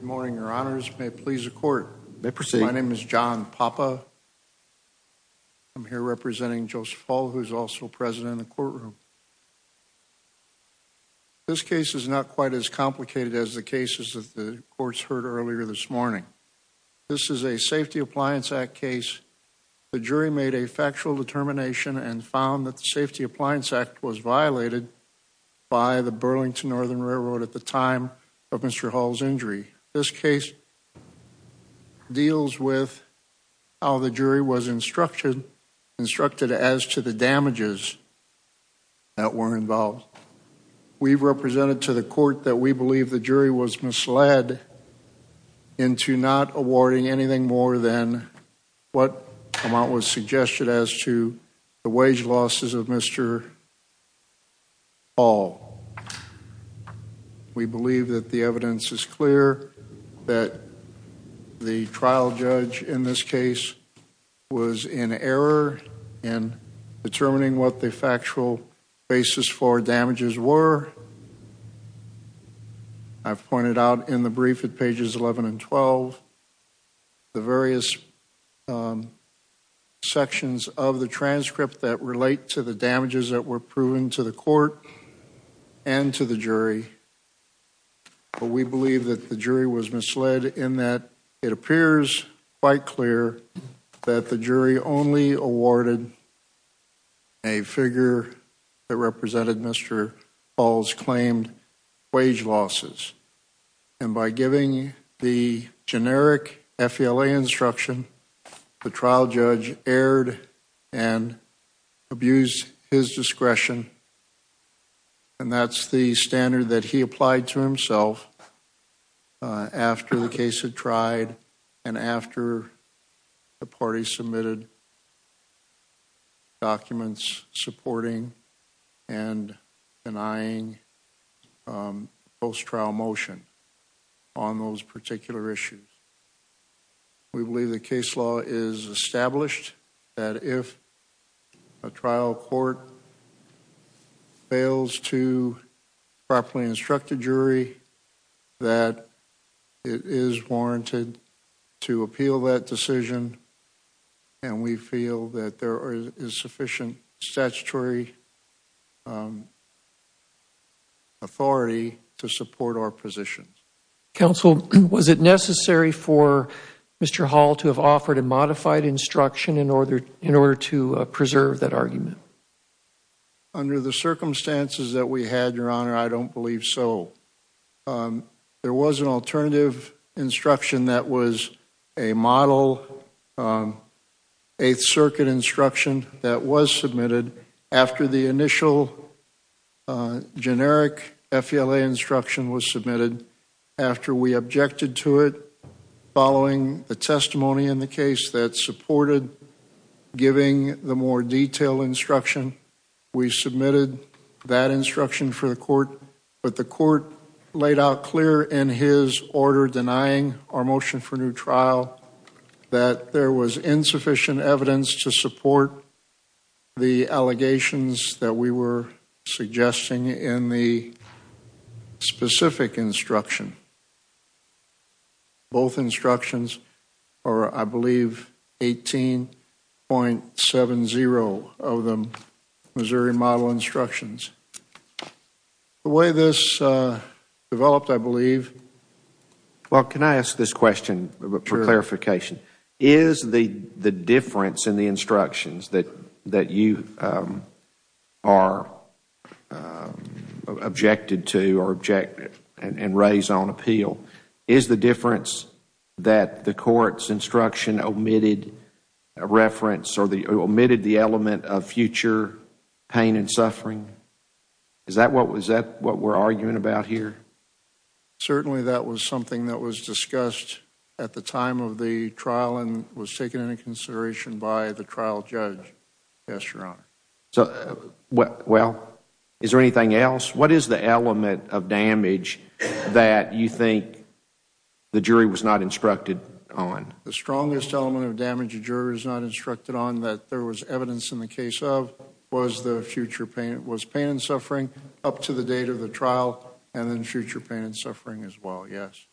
Morning, your honors. May it please the court. My name is John Papa. I'm here representing Joseph Hall, who's also president of the courtroom. This case is not quite as complicated as the cases of the courts heard earlier this morning. This is a Safety Appliance Act case. The jury made a factual determination and found that the Safety Appliance Act was violated by the Burlington Northern Railroad at the time of Mr. Hall's injury. This case deals with how the jury was instructed as to the damages that were involved. We've represented to the court that we believe the jury was misled into not awarding anything more than what was suggested as to the wage losses of Mr. Hall. We believe that the evidence is clear that the trial judge in this case was in error in determining what the factual basis for damages were. I've pointed out in the brief at pages 11 and 12 the various sections of the transcript that relate to the damages that were proven to the court and to the jury, but we believe that the jury was misled in that it appears quite clear that the jury only awarded a figure that represented Mr. Hall's claimed wage losses and by giving the generic FELA instruction, the trial judge erred and abused his discretion and that's the standard that he applied to himself after the case had been closed. We believe the case law is established that if a trial court fails to properly instruct a jury, that it is warranted to appeal that decision and we feel that there is sufficient statutory authority to support our position. Counsel, was it necessary for Mr. Hall to have offered a modified instruction in order to preserve that we had, your honor? I don't believe so. There was an alternative instruction that was a model Eighth Circuit instruction that was submitted after the initial generic FLA instruction was submitted, after we objected to it following the testimony in the case that supported giving the more detailed instruction. We submitted that instruction for the court, but the court laid out clear in his order denying our motion for new trial that there was insufficient evidence to support the allegations that we were suggesting in the specific instruction. Both instructions are, I believe, 18.70 of them Missouri model instructions. The way this developed, I believe. Well, can I ask this question for clarification? Is the difference in the instructions that that you are objected to or objected and raise on appeal, is the difference that the court's instruction omitted a reference or omitted the element of future pain and suffering? Is that what we're arguing about here? Certainly, that was something that was discussed at the time of the trial and was taken into consideration by the trial judge, yes, your honor. Well, is there anything else? What is the element of damage that you think the jury was not instructed on? The strongest element of damage a juror is not instructed on that there was evidence in the case of was the future pain, it was pain and suffering up to the date of the trial and then future pain and suffering as well, yes.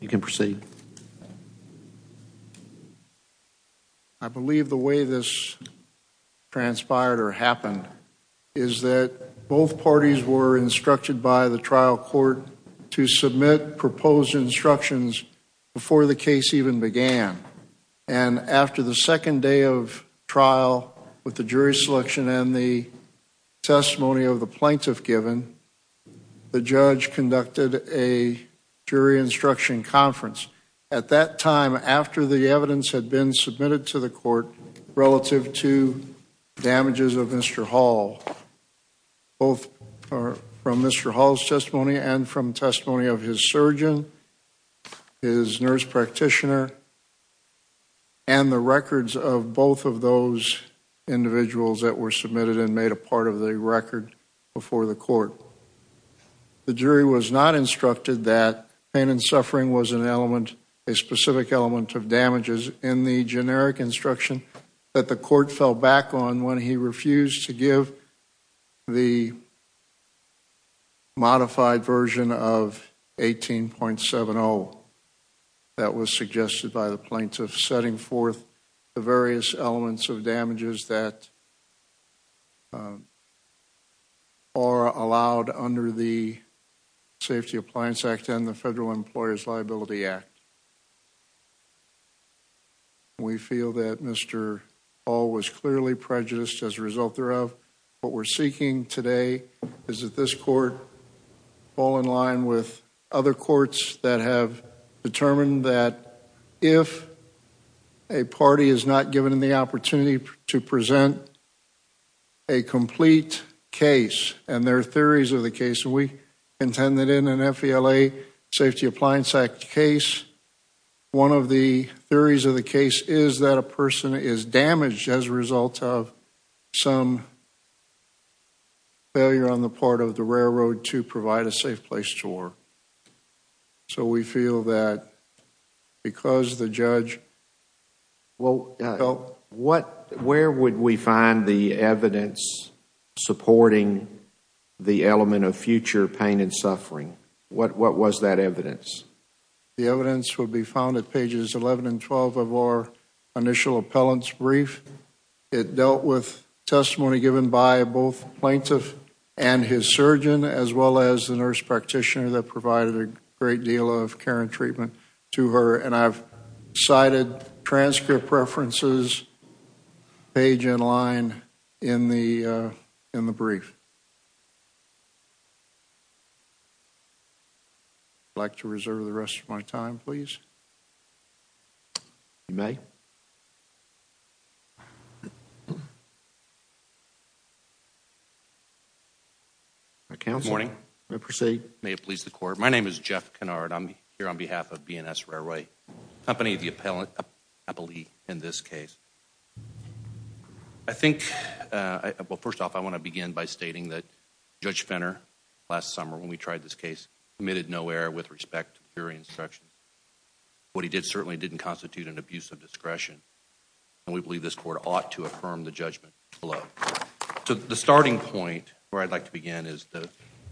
You can proceed. I believe the way this transpired or happened is that both parties were instructed by the trial court to submit proposed instructions before the case even began and after the second day of trial with the jury selection and the testimony of the plaintiff given, the judge conducted a jury instruction conference at that time after the evidence had been submitted to the court relative to damages of Mr. Hall, both from Mr. Hall's testimony and from testimony of his surgeon, his nurse practitioner, and the records of both of those individuals that were submitted and made a part of the record before the was an element, a specific element of damages in the generic instruction that the court fell back on when he refused to give the modified version of 18.70 that was suggested by the plaintiff setting forth the various elements of damages that are allowed under the Safety Appliance Act and the Federal Employers Liability Act. We feel that Mr. Hall was clearly prejudiced as a result thereof. What we're seeking today is that this court fall in line with other courts that have determined that if a party is not given the opportunity to present a complete case and their theories of the case, we intend that in an FELA Safety Appliance Act case, one of the theories of the case is that a person is damaged as a result of some failure on the part of the railroad to provide a safe place to work. We feel that because the judge... Where would we find the evidence supporting the element of future pain and what was that evidence? The evidence will be found at pages 11 and 12 of our initial appellant's brief. It dealt with testimony given by both plaintiff and his surgeon as well as the nurse practitioner that provided a great deal of care and treatment to her and I've cited transcript references page in line in the in the brief. I'd like to reserve the rest of my time please. You may. Good morning. May it please the court. My name is Jeff Kennard. I'm here on behalf of BNS Railway Company, the appellate in this case. I think, well first off, I want to begin by stating that Judge Fenner last summer when we tried this case committed no error with respect to the theory of instruction. What he did certainly didn't constitute an abuse of discretion and we believe this court ought to affirm the judgment below. So the starting point where I'd like to begin is the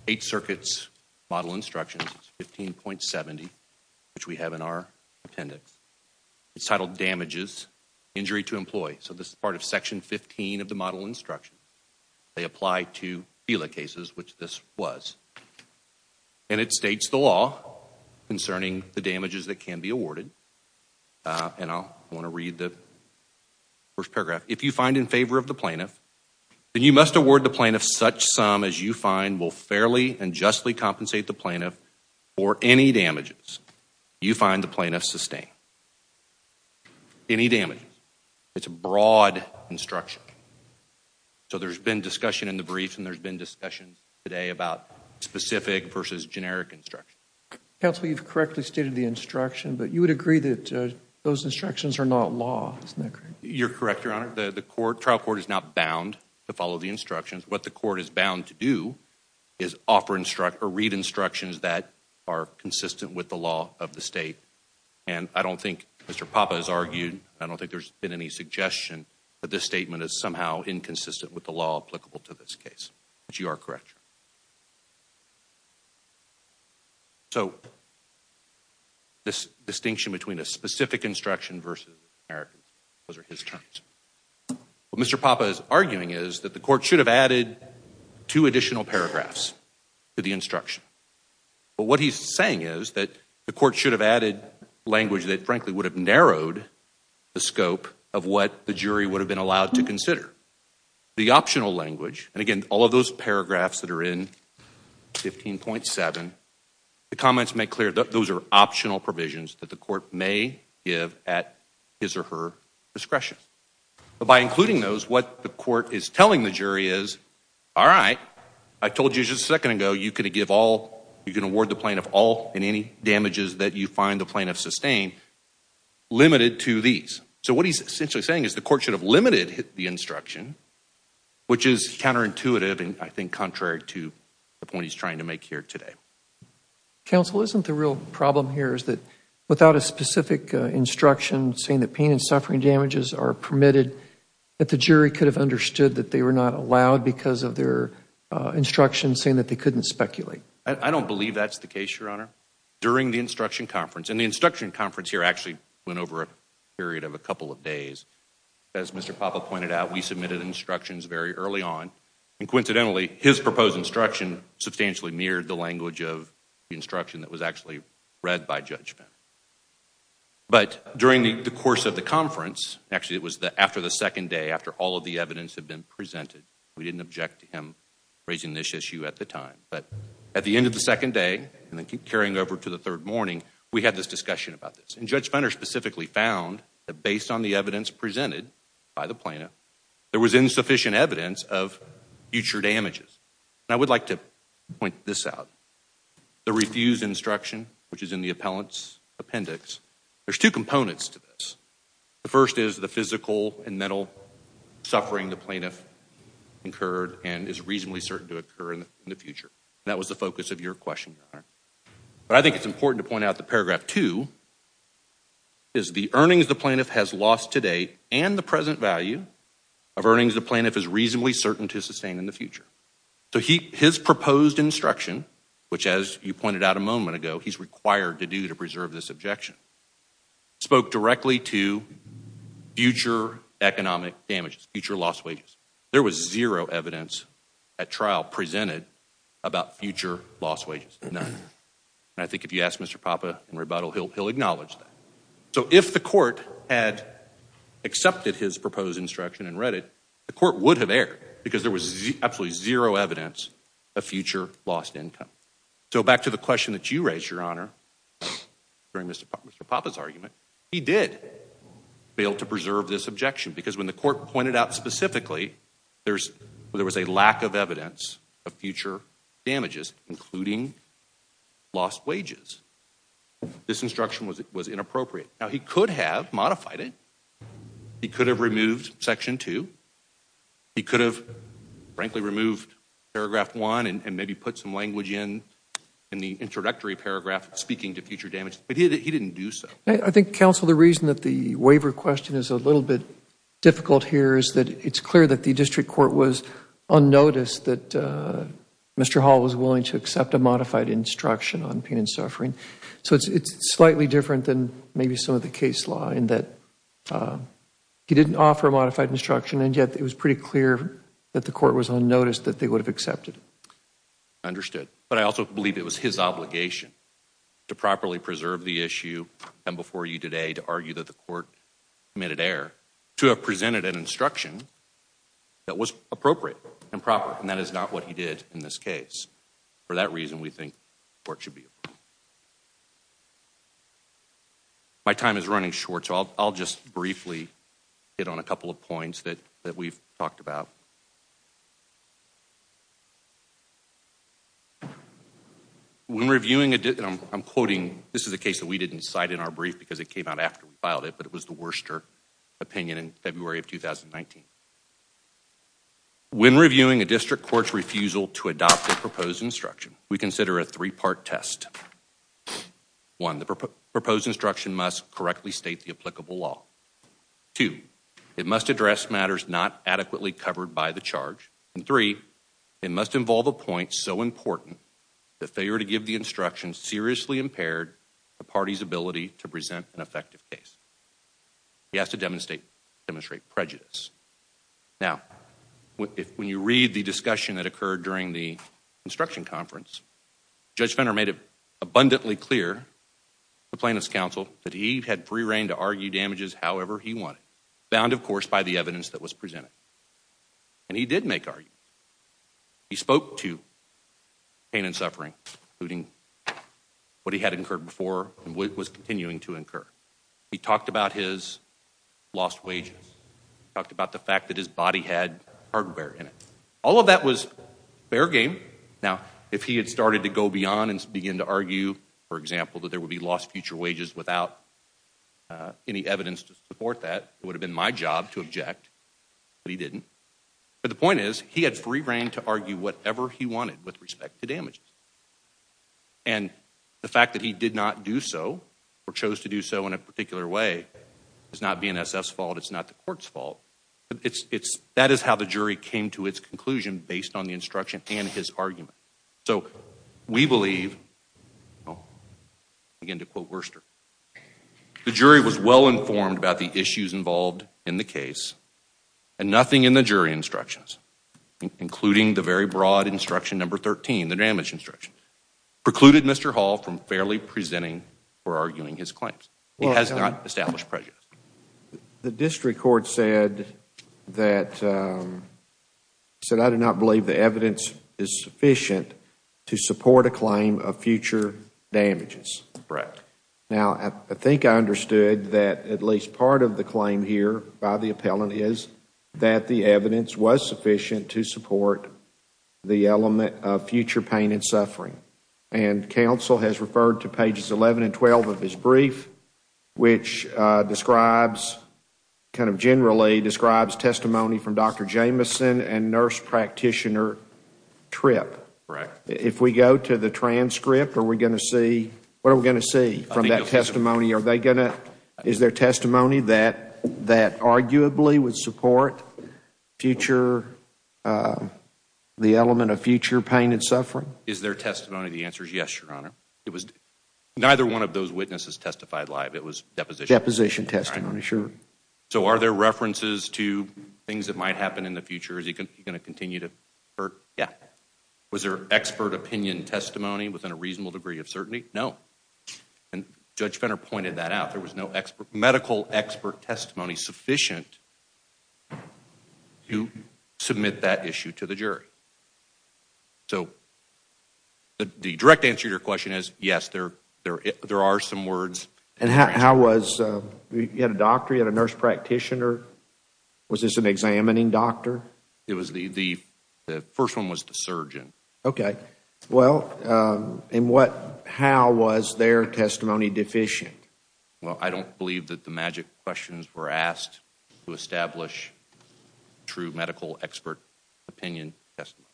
eight circuits model instructions 15.70 which we have in our appendix. It's titled Damages, Injury to Employee. So this is part of section 15 of the model instruction. They apply to FELA cases which this was. And it states the law concerning the damages that can be awarded and I'll want to read the first paragraph. If you find in favor of the plaintiff then you must award the plaintiff such sum as you find will fairly and justly compensate the plaintiff sustained. Any damages. It's a broad instruction. So there's been discussion in the briefs and there's been discussion today about specific versus generic instruction. Counsel, you've correctly stated the instruction but you would agree that those instructions are not law, isn't that correct? You're correct, Your Honor. The trial court is not bound to follow the instructions. What the court is bound to do is offer instructions or read of the state and I don't think Mr. Papa has argued, I don't think there's been any suggestion that this statement is somehow inconsistent with the law applicable to this case. But you are correct. So this distinction between a specific instruction versus generic, those are his terms. What Mr. Papa is arguing is that the court should have added two additional paragraphs to the instruction. But what he's saying is that the court should have added language that frankly would have narrowed the scope of what the jury would have been allowed to consider. The optional language, and again all of those paragraphs that are in 15.7, the comments make clear that those are optional provisions that the court may give at his or her discretion. But by including those, what the court is telling the jury is, all right, I told you just a second ago you could give all you can award the plaintiff all in any damages that you find the plaintiff sustained, limited to these. So what he's essentially saying is the court should have limited the instruction, which is counterintuitive and I think contrary to the point he's trying to make here today. Counsel, isn't the real problem here is that without a specific instruction saying that pain and suffering damages are permitted, that the jury could have understood that they were not allowed because of their instruction saying that they couldn't speculate? I don't believe that's the case, Your Honor. During the instruction conference, and the instruction conference here actually went over a period of a couple of days. As Mr. Papa pointed out, we submitted instructions very early on and coincidentally his proposed instruction substantially mirrored the language of the instruction that was actually read by judgment. But during the course of the conference, actually it was the after the second day after all of the evidence had been presented, we didn't object to him raising this issue at the time. But at the end of the second day and then carrying over to the third morning, we had this discussion about this. And Judge Fenner specifically found that based on the evidence presented by the plaintiff, there was insufficient evidence of future damages. And I would like to point this out. The refused instruction, which is in the appellant's appendix, there's two components to this. The first is the plaintiff incurred and is reasonably certain to occur in the future. That was the focus of your question, Your Honor. But I think it's important to point out the paragraph two, is the earnings the plaintiff has lost to date and the present value of earnings the plaintiff is reasonably certain to sustain in the future. So his proposed instruction, which as you pointed out a moment ago, he's required to do to preserve this objection, spoke directly to future economic damages, future lost wages. There was zero evidence at trial presented about future lost wages. None. And I think if you ask Mr. Papa in rebuttal, he'll acknowledge that. So if the court had accepted his proposed instruction and read it, the court would have erred because there was absolutely zero evidence of future lost income. So back to the question that you raised, Your Honor, during Mr. Papa's argument, he did fail to preserve this objection because when the court pointed out specifically there was a lack of evidence of future damages, including lost wages. This instruction was it was inappropriate. Now he could have modified it. He could have removed section two. He could have frankly removed paragraph one and maybe put some language in in the introductory paragraph speaking to future damage, but he didn't do so. I think, counsel, the reason that the waiver question is a bit difficult here is that it's clear that the district court was unnoticed that Mr. Hall was willing to accept a modified instruction on pain and suffering. So it's slightly different than maybe some of the case law in that he didn't offer a modified instruction and yet it was pretty clear that the court was unnoticed that they would have accepted. Understood. But I also believe it was his obligation to properly preserve the issue and before you today to argue that the court committed error to have presented an instruction that was appropriate and proper and that is not what he did in this case. For that reason, we think the court should be informed. My time is running short, so I'll just briefly hit on a couple of points that that we've talked about. When reviewing a I'm quoting this is a case that we didn't decide in our brief because it came out after we filed it, but it was the worst opinion in February of 2019. When reviewing a district court's refusal to adopt a proposed instruction, we consider a three-part test. One, the proposed instruction must correctly state the applicable law. Two, it must address matters not adequately covered by the charge. And three, it must involve a point so important the failure to give the instruction seriously impaired the party's ability to present an effective case. He has to demonstrate prejudice. Now, when you read the discussion that occurred during the instruction conference, Judge Fenner made it abundantly clear to plaintiff's counsel that he had free reign to argue damages however he wanted, bound of course by the evidence that was presented. And he did make arguments. He spoke to pain and suffering, including what he had incurred before and what was continuing to incur. He talked about his lost wages, talked about the fact that his body had hardware in it. All of that was fair game. Now, if he had started to go beyond and begin to argue, for example, that there would be lost future wages without any evidence to support that, it would have been my job to object, but he didn't. But the point is, he had free reign to argue whatever he wanted with respect to damages. And the fact that he did not do so or chose to do so in a particular way is not BNSF's fault. It's not the court's fault. That is how the jury came to its conclusion based on the instruction and his argument. So we believe, again to quote Worcester, the jury was well informed about the issues involved in the case and nothing in the jury instructions, including the very broad instruction number 13, the damage instruction, precluded Mr. Hall from fairly presenting or arguing his claims. He has not established prejudice. The district court said that I do not believe the evidence is sufficient to support a claim of future damages. Now, I think I understood that at least part of the claim here by the appellant is that the evidence was sufficient to support the element of future pain and suffering. And counsel has referred to pages 11 and 12 of his brief, which describes, kind of generally describes testimony from Dr. Jameson and nurse practitioner Tripp. If we go to the transcript, are we going to see, what are we going to see from that testimony? Are they going to, is there testimony that arguably would support future, the element of future pain and suffering? Is there testimony? The answer is yes, Your Honor. It was neither one of those witnesses testified live. It was deposition testimony. So are there references to things that might happen in the future? Is he going to continue to hurt? Yeah. Was there expert opinion testimony within a reasonable degree of certainty? No. And Judge Fenner pointed that out. There was no expert, medical expert testimony sufficient to submit that issue to the jury. So the direct answer to your question is yes, there are some words. And how was, you had a doctor, you had a nurse practitioner, was this an examining doctor? It was the, the first one was the Well, I don't believe that the magic questions were asked to establish true medical expert opinion testimony.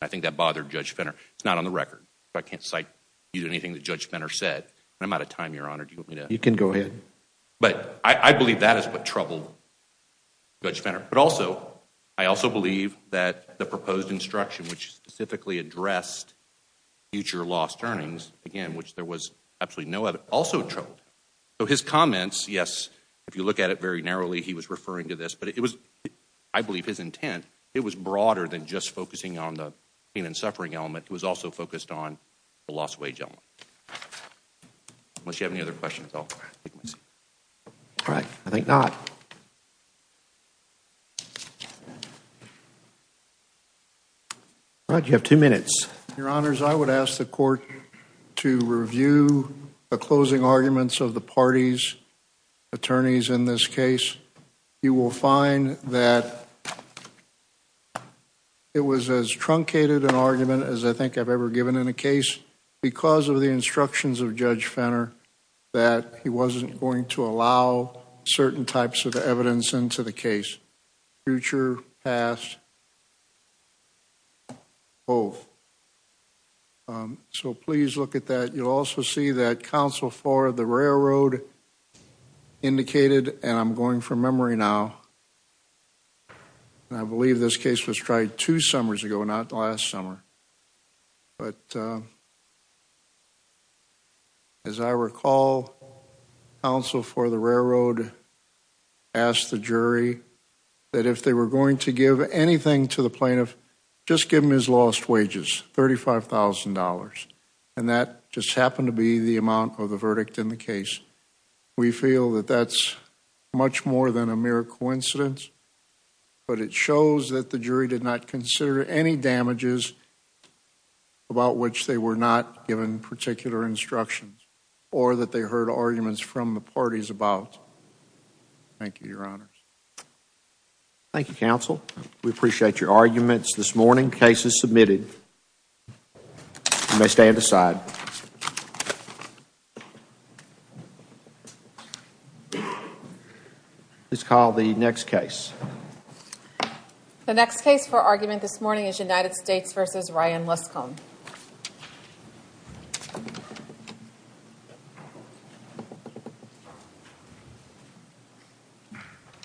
I think that bothered Judge Fenner. It's not on the record. I can't cite you to anything that Judge Fenner said. I'm out of time, Your Honor. Do you want me to? You can go ahead. But I believe that is what troubled Judge Fenner. But also, I also believe that the proposed instruction which specifically addressed future lost earnings, again, which there was absolutely no evidence, also troubled. So his comments, yes, if you look at it very narrowly, he was referring to this. But it was, I believe his intent, it was broader than just focusing on the pain and suffering element. It was also focused on the lost wage element. Unless you have any other questions, I'll take my seat. All right. I think not. All right, you have two minutes. Your Honors, I would ask the court to review the closing arguments of the party's attorneys in this case. You will find that it was as truncated an argument as I think I've ever given in a case because of the instructions of Judge Fenner that he wasn't going to allow certain types of evidence into the case. Future, past, both. So please look at that. You'll also see that counsel for the railroad indicated, and I'm going from memory now, and I believe this case was tried two summers ago, not last summer. But as I asked the jury that if they were going to give anything to the plaintiff, just give him his lost wages, $35,000. And that just happened to be the amount of the verdict in the case. We feel that that's much more than a mere coincidence. But it shows that the jury did not consider any damages about which they were not given particular instructions or that they heard arguments from the plaintiff. Thank you, Your Honors. Thank you, counsel. We appreciate your arguments. This morning, case is submitted. You may stand aside. Please call the next case. The next case for argument this morning is United States v. Ryan Lescombe. Thank you.